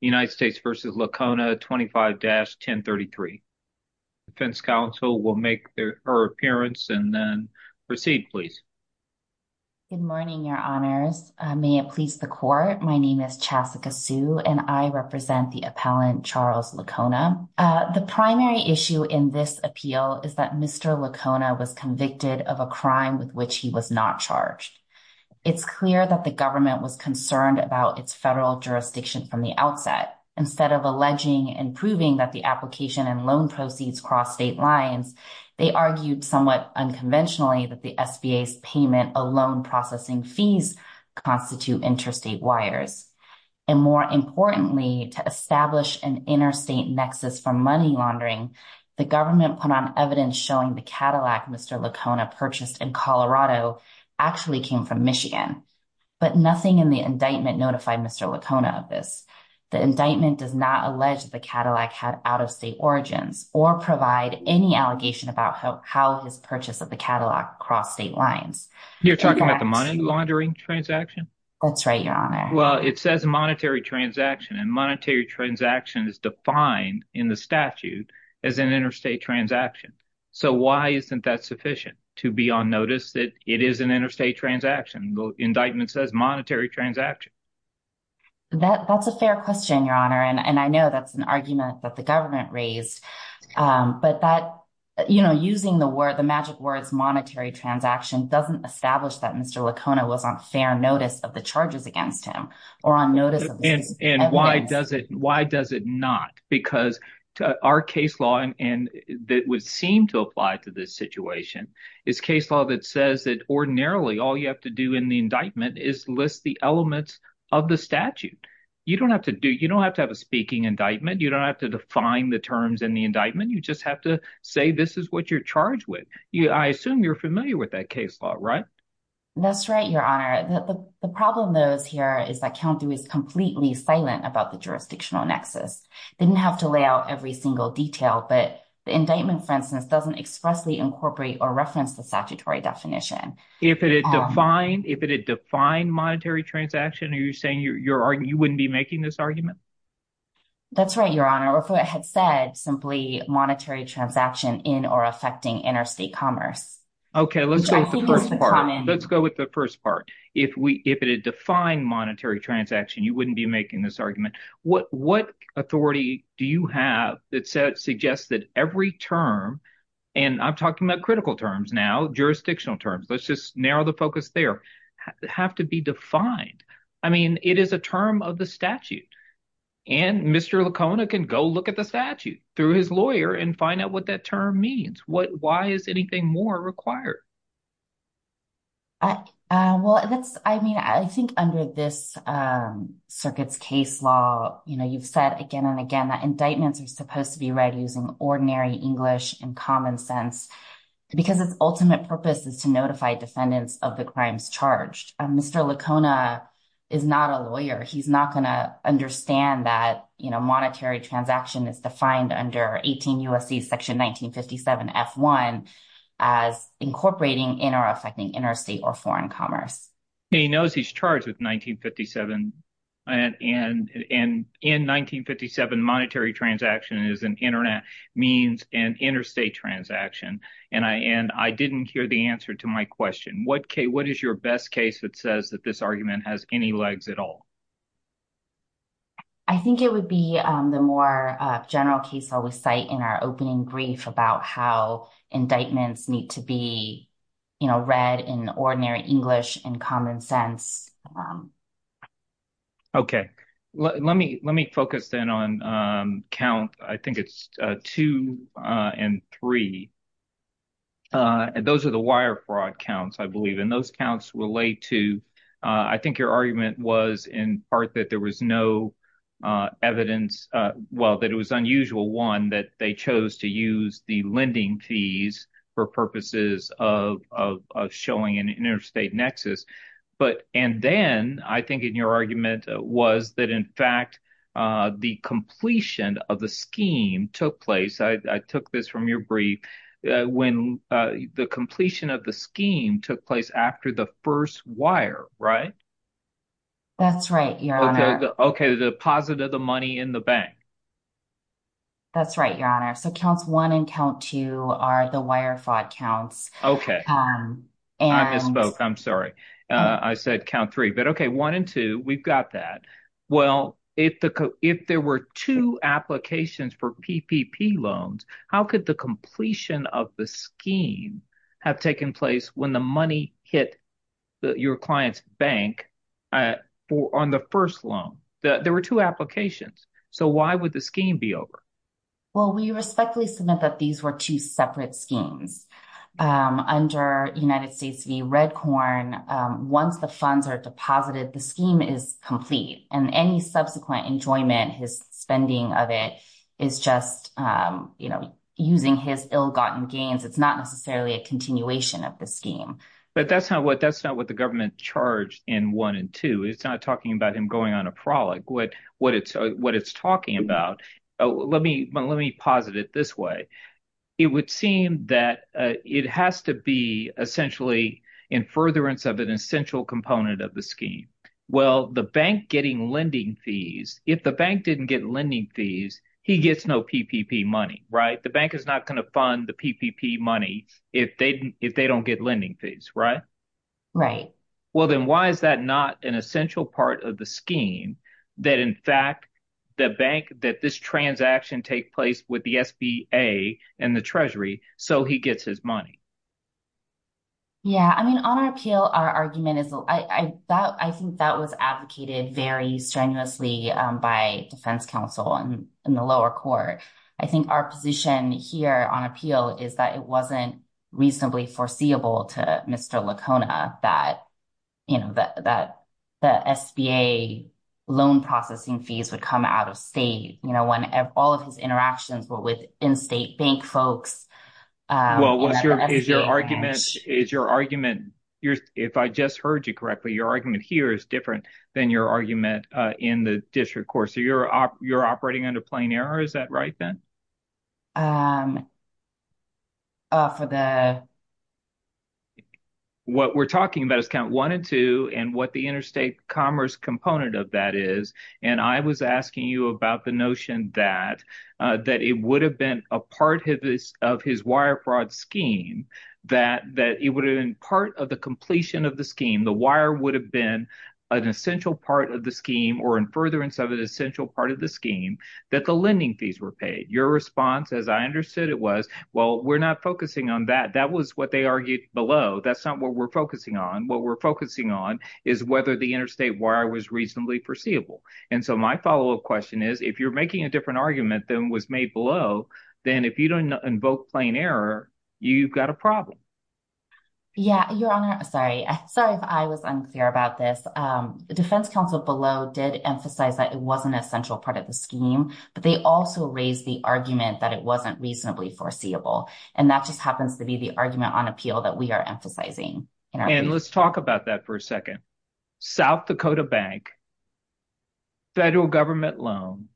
United States v. Lacona 25-1033. Defense counsel will make their appearance and then proceed, please. Good morning, your honors. May it please the court. My name is Chassika Su and I represent the appellant Charles Lacona. The primary issue in this appeal is that Mr. Lacona was convicted of a crime with which he was not charged. It's clear that the government was concerned about its federal jurisdiction from the outset. Instead of alleging and proving that the application and loan proceeds cross state lines, they argued somewhat unconventionally that the SBA's payment alone processing fees constitute interstate wires. And more importantly, to establish an interstate nexus for money laundering, the government put on evidence showing the Cadillac Mr. Lacona purchased in Colorado actually came from Michigan. But nothing in the indictment notified Mr. Lacona of this. The indictment does not allege the Cadillac had out-of-state origins or provide any allegation about how his purchase of the Cadillac crossed state lines. You're talking about the money laundering transaction? That's right, your honor. Well, it says monetary transaction and monetary transaction is defined in the statute as an interstate transaction. So why isn't that sufficient to be on notice that it is an interstate transaction? The indictment says monetary transaction. That's a fair question, your honor. And I know that's an argument that the government raised. But that, you know, using the word, the magic words monetary transaction doesn't establish that Mr. Lacona was on fair notice of charges against him or on notice. And why does it why does it not? Because our case law and that would seem to apply to this situation is case law that says that ordinarily all you have to do in the indictment is list the elements of the statute. You don't have to do you don't have to have a speaking indictment. You don't have to define the terms in the indictment. You just have to say this is what you're charged with. I assume you're familiar with that case law, right? That's right, your honor. The problem, though, is here is that county is completely silent about the jurisdictional nexus. They didn't have to lay out every single detail. But the indictment, for instance, doesn't expressly incorporate or reference the statutory definition. If it is defined, if it is defined monetary transaction, are you saying you wouldn't be making this argument? That's right, your honor. If it had said simply monetary transaction in affecting interstate commerce. Okay, let's go with the first part. Let's go with the first part. If we if it had defined monetary transaction, you wouldn't be making this argument. What what authority do you have that suggests that every term and I'm talking about critical terms now, jurisdictional terms, let's just narrow the focus there have to be defined. I mean, it is a term of the statute. And Mr. Lacona can go look at the statute through his and find out what that term means. What why is anything more required? Well, that's I mean, I think under this circuit's case law, you know, you've said again and again, that indictments are supposed to be read using ordinary English and common sense, because its ultimate purpose is to notify defendants of the crimes charged. Mr. Lacona is not a lawyer. He's not going to understand that, you know, USC section 1957 F1 as incorporating in or affecting interstate or foreign commerce. He knows he's charged with 1957. And in in 1957, monetary transaction is an internet means and interstate transaction. And I and I didn't hear the answer to my question. What K what is your best case that says that this argument has any legs at all? I think it would be the more general case I would cite in our opening brief about how indictments need to be, you know, read in ordinary English and common sense. OK, let me let me focus in on count. I think it's two and three. Those are the wire fraud counts, I believe, and those counts relate to I think your argument was in part that there was no evidence. Well, that it was unusual one that they chose to use the lending fees for purposes of showing an interstate nexus. But and then I think in your argument was that, in fact, the completion of the scheme took place. I took this your brief when the completion of the scheme took place after the first wire, right? That's right. OK, the deposit of the money in the bank. That's right, your honor. So counts one and count two are the wire fraud counts. OK. And I'm sorry I said count three, but OK, one and two. We've got that. Well, if the if there were two applications for PPP loans, how could the completion of the scheme have taken place when the money hit your client's bank on the first loan? There were two applications. So why would the scheme be over? Well, we respectfully submit that these were two separate schemes under United States v. Redcorn. Once the funds are deposited, the scheme is complete and any subsequent enjoyment, his spending of it is just, you know, using his ill-gotten gains. It's not necessarily a continuation of the scheme. But that's not what that's not what the government charged in one and two. It's not talking about him going on a prologue. What what it's what it's talking about. Let me let me posit it this way. It would seem that it has to be essentially in furtherance of an essential component of the scheme. Well, the bank getting lending fees, if the bank didn't get lending fees, he gets no PPP money. Right. The bank is not going to fund the PPP money if they if they don't get lending fees. Right. Right. Well, then why is that not an essential part of the scheme that, in fact, the bank that this transaction take place with the SBA and the Treasury so he gets his money? Yeah, I mean, on our appeal, our argument is I think that was advocated very strenuously by defense counsel and in the lower court. I think our position here on appeal is that it wasn't reasonably foreseeable to Mr. Lacona that, you know, that that the SBA loan processing fees would come out of state, you know, when all of his interactions were with in-state bank folks. Well, what is your argument? Is your argument here? If I just heard you correctly, your argument here is different than your argument in the district court. So you're you're operating under plain error. Is that right, Ben? Off of the. What we're talking about is count one and two and what the interstate commerce component of that is. And I was asking you about the notion that that it would have been a part of this of his wire fraud scheme, that that it would have been part of the completion of the scheme. The wire would have been an essential part of the scheme or in furtherance of an essential part of the scheme that the lending fees were paid. Your response, as I understood it, was, well, we're not focusing on that. That was what they argued below. That's what we're focusing on. What we're focusing on is whether the interstate wire was reasonably foreseeable. And so my follow up question is, if you're making a different argument than was made below, then if you don't invoke plain error, you've got a problem. Yeah, your honor. Sorry. Sorry if I was unclear about this. The Defense Council below did emphasize that it wasn't an essential part of the scheme, but they also raised the argument that it wasn't reasonably foreseeable. And that just happens to be the argument on appeal that we are emphasizing. And let's talk about that for a second. South Dakota Bank. Federal government loan.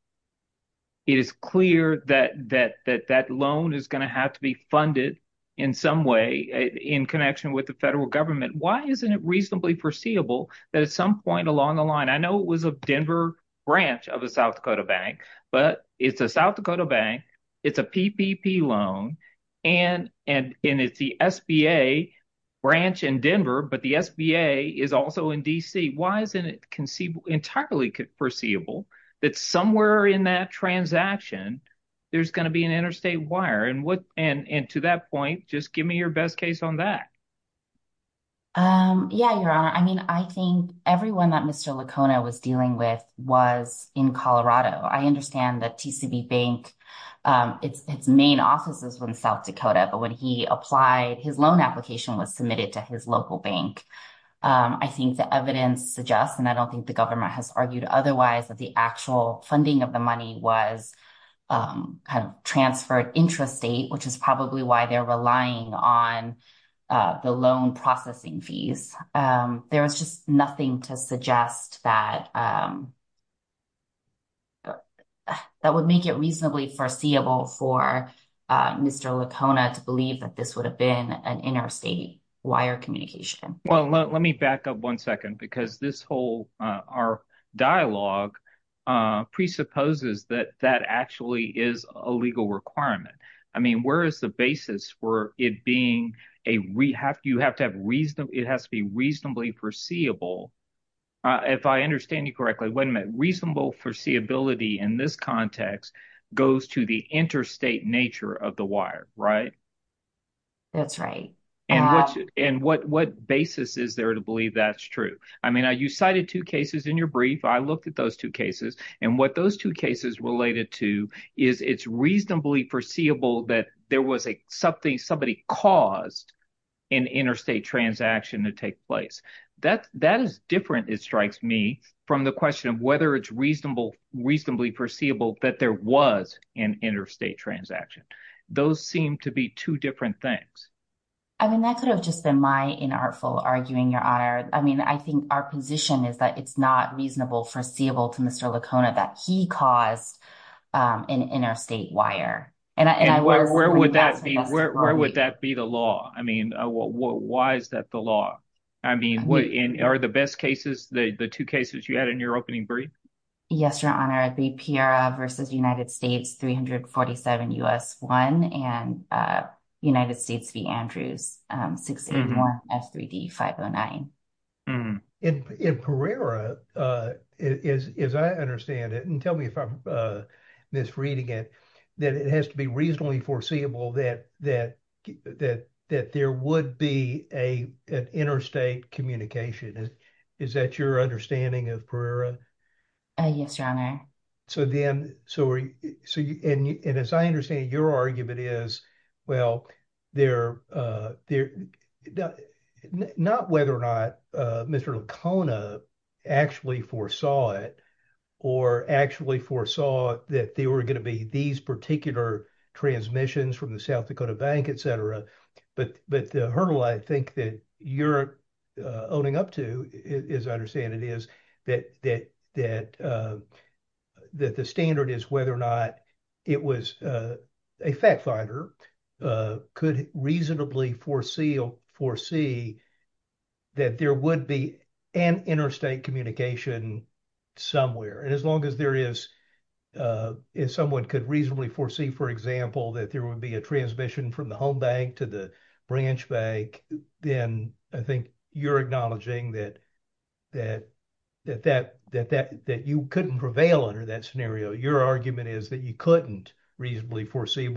It is clear that that that that loan is going to have to be funded in some way in connection with the federal government. Why isn't it reasonably foreseeable that at some point along the line? I know it was a Denver branch of the South Dakota Bank, but it's a South Dakota Bank. It's a PPP loan and and it's the SBA branch in Denver, but the SBA is also in D.C. Why isn't it conceivable, entirely foreseeable that somewhere in that transaction there's going to be an interstate wire and what and to that point, just give me your best case on that. Yeah, your honor. I mean, I think everyone that Mr. Lacona was dealing with was in Colorado. I it's main offices in South Dakota. But when he applied, his loan application was submitted to his local bank. I think the evidence suggests, and I don't think the government has argued otherwise, that the actual funding of the money was kind of transferred intrastate, which is probably why they're relying on the loan processing fees. There is just nothing to suggest that that would make it reasonably foreseeable for Mr. Lacona to believe that this would have been an interstate wire communication. Well, let me back up one second, because this whole dialogue presupposes that that actually is a legal requirement. I mean, where is the basis for it being a rehab? You have to have reason. It has to be reasonably foreseeable. If I understand you correctly, when a reasonable foreseeability in this context goes to the interstate nature of the wire. Right. That's right. And what basis is there to believe that's true? I mean, you cited two cases in your brief. I looked at those two cases and what those two cases related to is it's reasonably foreseeable that there was something somebody caused an interstate transaction to take place. That is different, it strikes me, from the question of whether it's reasonable, reasonably foreseeable that there was an interstate transaction. Those seem to be two different things. I mean, that could have just been my inartful arguing, Your Honor. I mean, I think our position is that it's not reasonable foreseeable to Mr. Lacona that he caused an interstate wire. And where would that be? Where would that be the law? I mean, why is that the law? I mean, what are the best cases, the two cases you had in your opening brief? Yes, Your Honor. The PRA versus United States 347 U.S. 1 and United States v. Andrews 681 F3D 509. In Pereira, as I understand it, and tell me if I'm misreading it, that it has to be reasonably foreseeable that there would be an interstate communication. Is that your understanding of Pereira? Yes, Your Honor. So then, and as I understand it, your argument is, well, not whether or not Mr. Lacona actually foresaw it or actually foresaw that there were going to be these particular transmissions from the South Dakota Bank, et cetera. But the hurdle I think that you're owning up to, as I understand it, is that the standard is whether or not a fact finder could reasonably foresee that there would be an interstate communication somewhere. And as long as there is, if someone could reasonably foresee, for example, that there would be a transmission from the home bank to the branch bank, then I think you're acknowledging that you couldn't prevail under that scenario. Your argument is that you couldn't reasonably foresee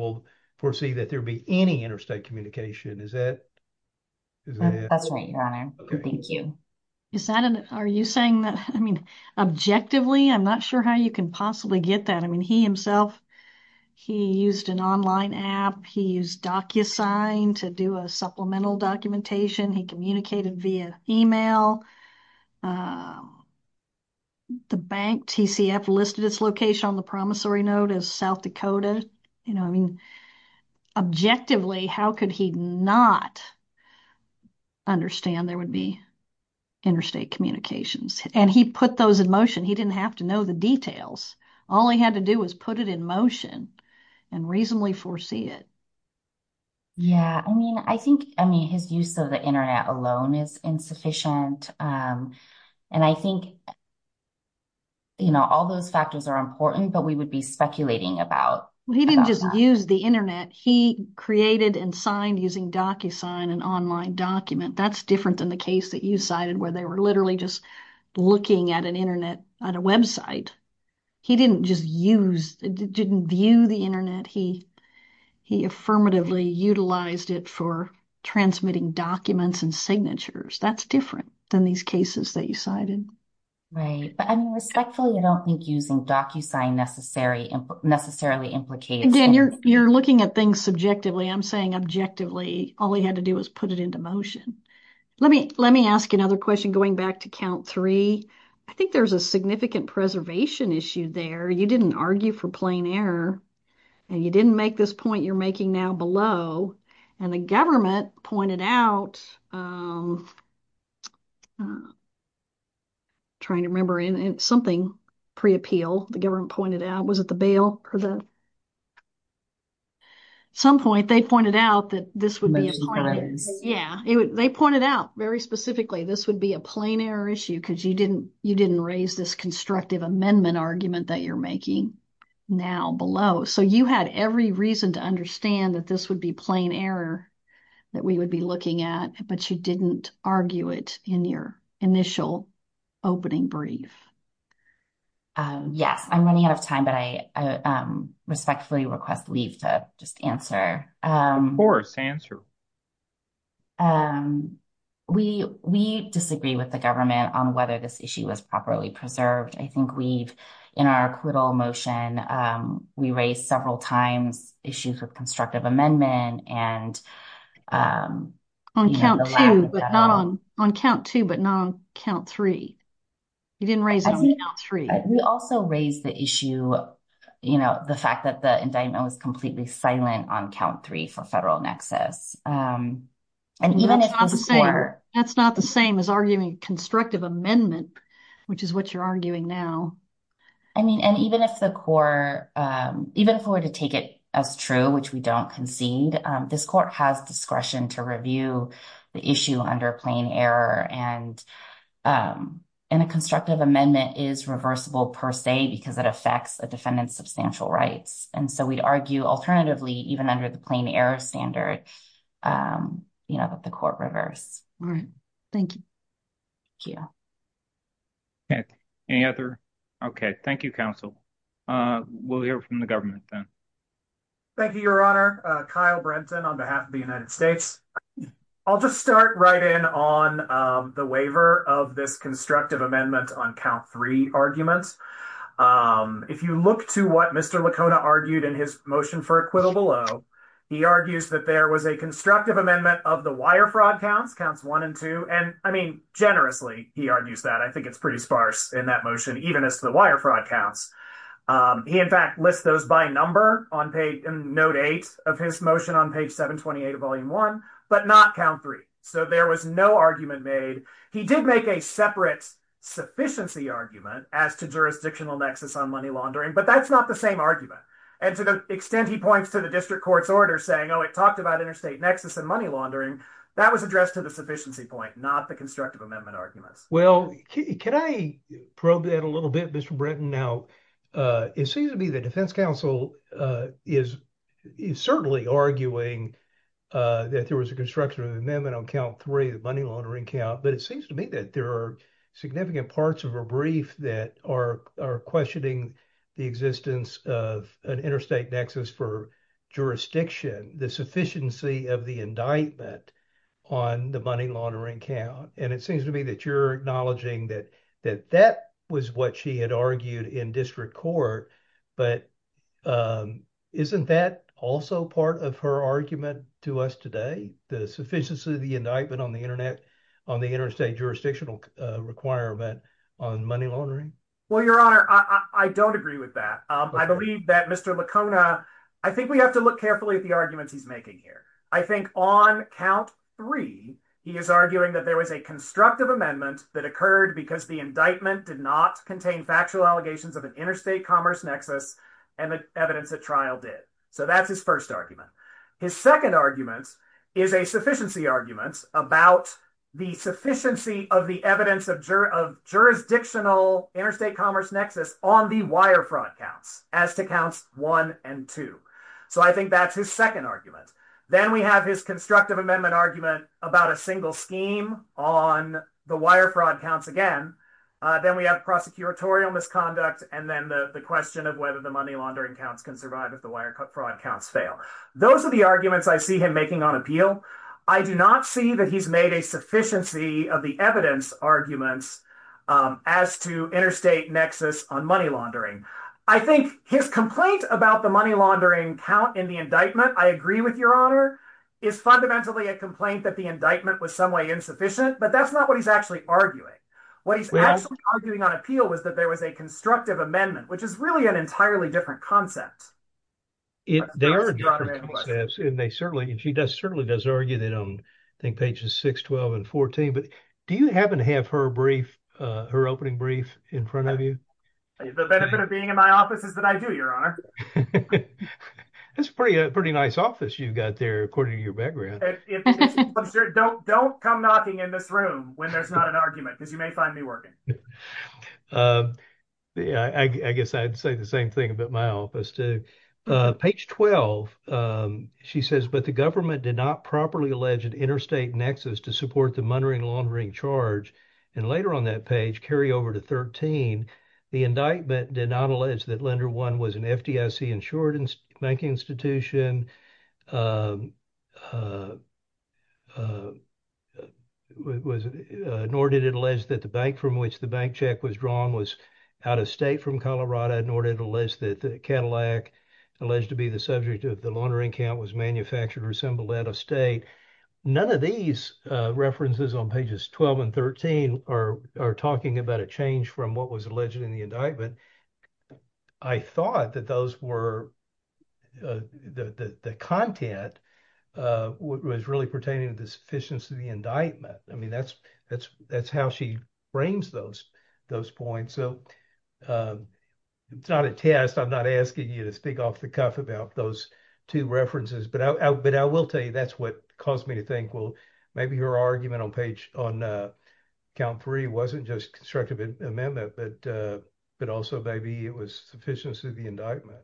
that there'd be any interstate communication. Is that? That's right, Your Honor. Thank you. Is that, are you saying that, I mean, objectively, I'm not sure how you can possibly get that. I mean, he himself, he used an online app, he used DocuSign to do a supplemental documentation, he communicated via email. The bank, TCF, listed its location on the promissory note as South Dakota. You know, I mean, objectively, how could he not understand there would be interstate communications? And he put those in motion. He didn't have to know the details. All he had to do was put it in motion and reasonably foresee it. Yeah, I mean, I think, I mean, his use of the internet alone is insufficient. And I think, you know, all those factors are important, but we would be speculating about that. He didn't just use the internet. He created and signed using DocuSign, an online document. That's different than the case that you cited, where they were literally just looking at internet on a website. He didn't just use, didn't view the internet. He affirmatively utilized it for transmitting documents and signatures. That's different than these cases that you cited. Right, but I mean, respectfully, I don't think using DocuSign necessarily implicates... Again, you're looking at things subjectively. I'm saying objectively, all he had to do was put it into motion. Let me, let me ask another question going back to count three. I think there's a significant preservation issue there. You didn't argue for plain error and you didn't make this point you're making now below. And the government pointed out, I'm trying to remember, in something pre-appeal, the government pointed out, was it the bill or the... At some point, they pointed out that this would be a point. Yeah, they pointed out very specifically, this would be a plain error issue because you didn't, you didn't raise this constructive amendment argument that you're making now below. So, you had every reason to understand that this would be plain error that we would be looking at, but you didn't argue it in your initial opening brief. Yes, I'm running out of time, but I respectfully request leave to just answer. Of course, answer. We disagree with the government on whether this issue was properly preserved. I think we've, in our acquittal motion, we raised several times issues with constructive amendment and... On count two, but not on count three. You didn't raise it on count three. We also raised the issue, the fact that the indictment was completely silent on count three for federal nexus. And even if that's not the same as arguing constructive amendment, which is what you're arguing now. I mean, and even if the court, even if we were to take it as true, which we don't concede, this court has discretion to review the issue under plain error. And a constructive amendment is reversible per se, because it affects a defendant's substantial rights. And so we'd argue alternatively, even under the plain error standard, you know, that the court reverse. All right. Thank you. Okay. Any other? Okay. Thank you, counsel. We'll hear from the government then. Thank you, your honor. Kyle Brenton on behalf of the United States. I'll just start right in on the waiver of this constructive amendment on count three arguments. If you look to what Mr. Lacona argued in his motion for acquittal below, he argues that there was a constructive amendment of the wire fraud counts, counts one and two. And I mean, generously, he argues that. I think it's pretty sparse in that motion, even as the wire fraud counts. He in fact lists those by number note eight of his motion on page 728 of volume one, but not count three. So there was no argument made. He did make a separate sufficiency argument as to jurisdictional nexus on money laundering, but that's not the same argument. And to the extent he points to the district court's order saying, oh, it talked about interstate nexus and money laundering, that was addressed to the sufficiency point, not the constructive amendment arguments. Well, can I probe that a little bit, Mr. Bretton? Now, it seems to me that defense counsel is certainly arguing that there was a constructive amendment on count three, the money laundering count, but it seems to me that there are significant parts of a brief that are questioning the existence of an interstate nexus for jurisdiction, the sufficiency of the indictment on the money laundering count. And it seems to me that you're acknowledging that that was what she had argued in district court, but isn't that also part of her argument to us today, the sufficiency of the indictment on the internet, on the interstate jurisdictional requirement on money laundering? Well, your honor, I don't agree with that. I believe that Mr. Lacona, I think we have to look carefully at the arguments he's making here. I think on count three, he is arguing that there was a constructive amendment that occurred because the indictment did not contain factual allegations of an interstate commerce nexus and the evidence that trial did. So that's his first argument. His second argument is a sufficiency argument about the sufficiency of the evidence of jurisdictional interstate commerce nexus on the wire fraud counts as to counts one and two. So I think that's his second argument. Then we have his constructive amendment argument about a scheme on the wire fraud counts again. Then we have prosecutorial misconduct and then the question of whether the money laundering counts can survive if the wire fraud counts fail. Those are the arguments I see him making on appeal. I do not see that he's made a sufficiency of the evidence arguments as to interstate nexus on money laundering. I think his complaint about the money laundering count in the indictment, I agree with your honor, is fundamentally a complaint that the indictment was some way insufficient, but that's not what he's actually arguing. What he's actually arguing on appeal was that there was a constructive amendment, which is really an entirely different concept. They are different concepts and they certainly, she does certainly, does argue that on I think pages 6, 12, and 14. But do you happen to have her brief, her opening brief in front of you? The benefit of being in my office is that I do, your honor. That's a pretty nice office you've got there according to your background. Don't come knocking in this room when there's not an argument because you may find me working. I guess I'd say the same thing about my office too. Page 12, she says, but the government did not properly allege an interstate nexus to support the money laundering charge. And later on that page, carry over to 13, the indictment did not allege that lender was an FDIC insured bank institution, nor did it allege that the bank from which the bank check was drawn was out of state from Colorado, nor did it allege that the Cadillac alleged to be the subject of the laundering count was manufactured or assembled out of state. None of these references on pages 12 and 13 are talking about a change from what was alleged in the indictment. I thought that the content was really pertaining to the sufficiency of the indictment. I mean, that's how she frames those points. So it's not a test. I'm not asking you to speak off the cuff about those two references, but I will tell you that's what caused me to think, well, maybe it was sufficiency of the indictment.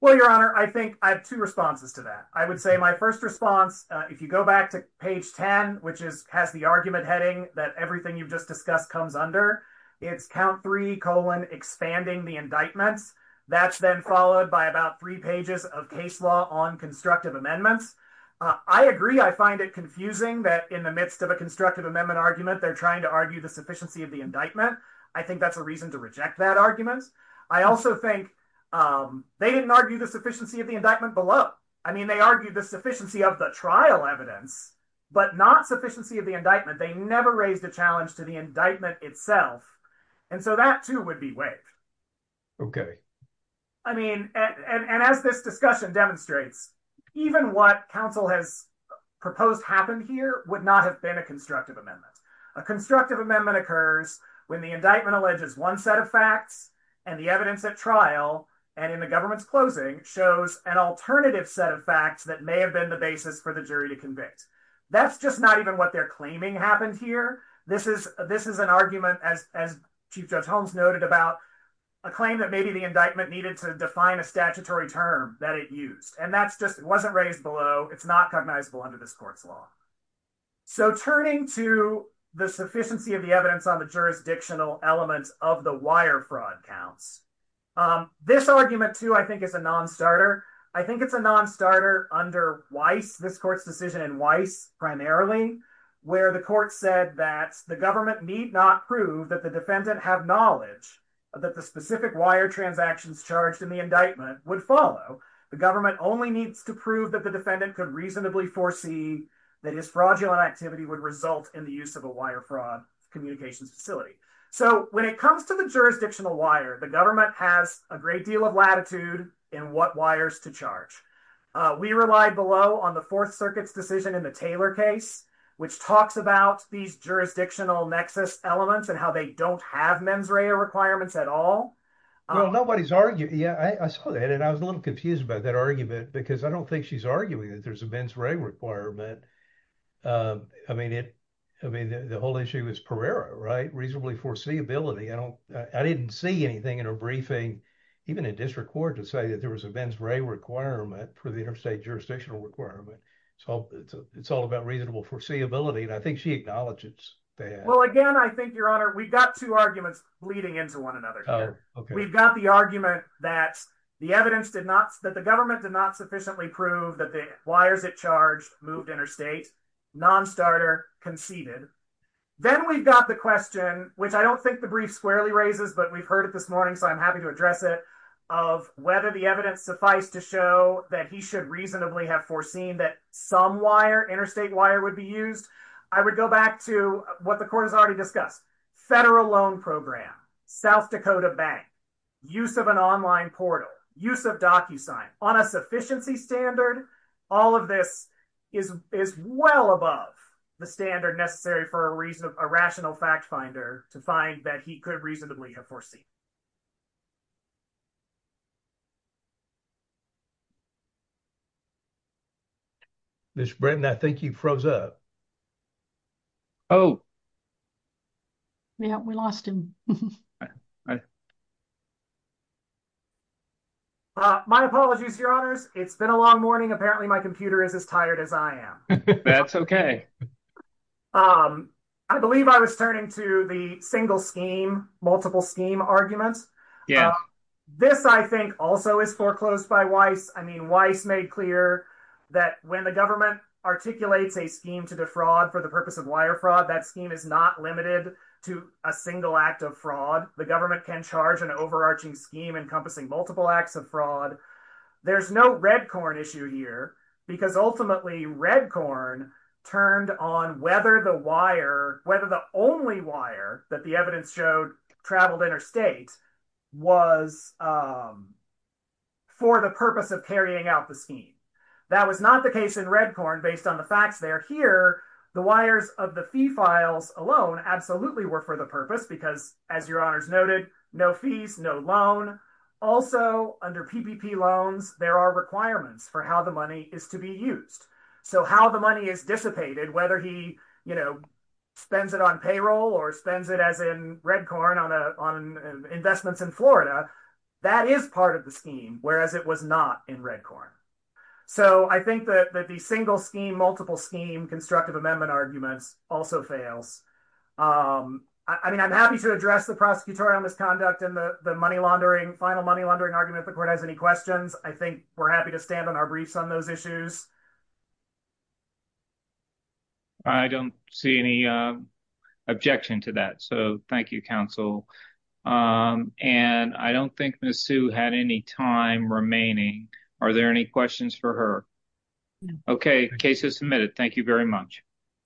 Well, your honor, I think I have two responses to that. I would say my first response, if you go back to page 10, which has the argument heading that everything you've just discussed comes under, it's count three colon expanding the indictments. That's then followed by about three pages of case law on constructive amendments. I agree. I find it confusing that in the midst of a constructive amendment argument, they're trying to argue the sufficiency of the indictment. I think that's a reason to reject that argument. I also think they didn't argue the sufficiency of the indictment below. I mean, they argued the sufficiency of the trial evidence, but not sufficiency of the indictment. They never raised a challenge to the indictment itself. And so that too would be waived. Okay. I mean, and as this discussion demonstrates, even what counsel has proposed happened here would not have been a constructive amendment. A constructive amendment occurs when the indictment alleges one set of facts and the evidence at trial and in the government's closing shows an alternative set of facts that may have been the basis for the jury to convict. That's just not even what they're claiming happened here. This is an argument, as Chief Judge Holmes noted, about a claim that maybe the indictment needed to define a statutory term that it used. And that's just, it wasn't raised below. It's not cognizable under this court's law. So turning to the sufficiency of the evidence on the jurisdictional elements of the wire fraud counts, this argument too, I think is a non-starter. I think it's a non-starter under Weiss, this court's decision in Weiss primarily, where the court said that the government need not prove that the defendant have knowledge that the specific wire transactions charged in the indictment would follow. The government only needs to prove that the defendant could reasonably foresee that his fraudulent activity would result in the use of a wire fraud communications facility. So when it comes to the jurisdictional wire, the government has a great deal of latitude in what wires to charge. We rely below on the Fourth Circuit's decision in the Taylor case, which talks about these jurisdictional nexus elements and how they don't have mens rea requirements at all. Well, nobody's arguing. Yeah, I saw that and I was a little confused about that argument because I don't think she's arguing that there's a mens re requirement. I mean, it, I mean, the whole issue is Pereira, right? Reasonably foreseeability. I don't, I didn't see anything in her briefing, even in district court, to say that there was a mens re requirement for the interstate jurisdictional requirement. So it's all about reasonable foreseeability and I think she acknowledges that. Well, again, I think, Your Honor, we've got two arguments bleeding into one another. We've got the argument that the evidence did not, that government did not sufficiently prove that the wires it charged moved interstate. Non-starter conceded. Then we've got the question, which I don't think the brief squarely raises, but we've heard it this morning, so I'm happy to address it, of whether the evidence suffice to show that he should reasonably have foreseen that some wire, interstate wire, would be used. I would go back to what the court has already discussed. Federal loan program, South Dakota bank, use of an online portal, use of DocuSign. On a sufficiency standard, all of this is is well above the standard necessary for a reason of a rational fact finder to find that he could reasonably have foreseen. Ms. Britton, I think you froze up. Oh, yeah, we lost him. My apologies, Your Honors. It's been a long morning. Apparently my computer is as tired as I am. I believe I was turning to the single scheme, multiple scheme arguments. This, I think, also is foreclosed by Weiss. I mean, Weiss made clear that when the government articulates a scheme to defraud for the purpose of wire fraud, that scheme is not limited to a single act of fraud. The government can charge an overarching scheme encompassing multiple acts of fraud. There's no Redcorn issue here, because ultimately Redcorn turned on whether the wire, whether the only wire that the evidence showed traveled interstate was for the purpose of carrying out the scheme. That was not the case in Redcorn based on the facts there. Here, the wires of the fee files alone absolutely were for the purpose because, as Your Honors noted, no fees, no loan. Also, under PPP loans, there are requirements for how the money is to be used. So how the money is dissipated, whether he, you know, spends it on payroll or spends it as in Redcorn on investments in Florida, that is part of the scheme, whereas it was not in Redcorn. So I think that the single scheme, multiple scheme, constructive amendment arguments also fails. I mean, I'm happy to address the prosecutorial misconduct and the money laundering, final money laundering argument, if the court has any questions. I think we're happy to stand on our briefs on those issues. I don't see any objection to that, so thank you, counsel. And I don't think Ms. Sue had any time remaining. Are there any questions for her? Okay, case is submitted. Thank you very much.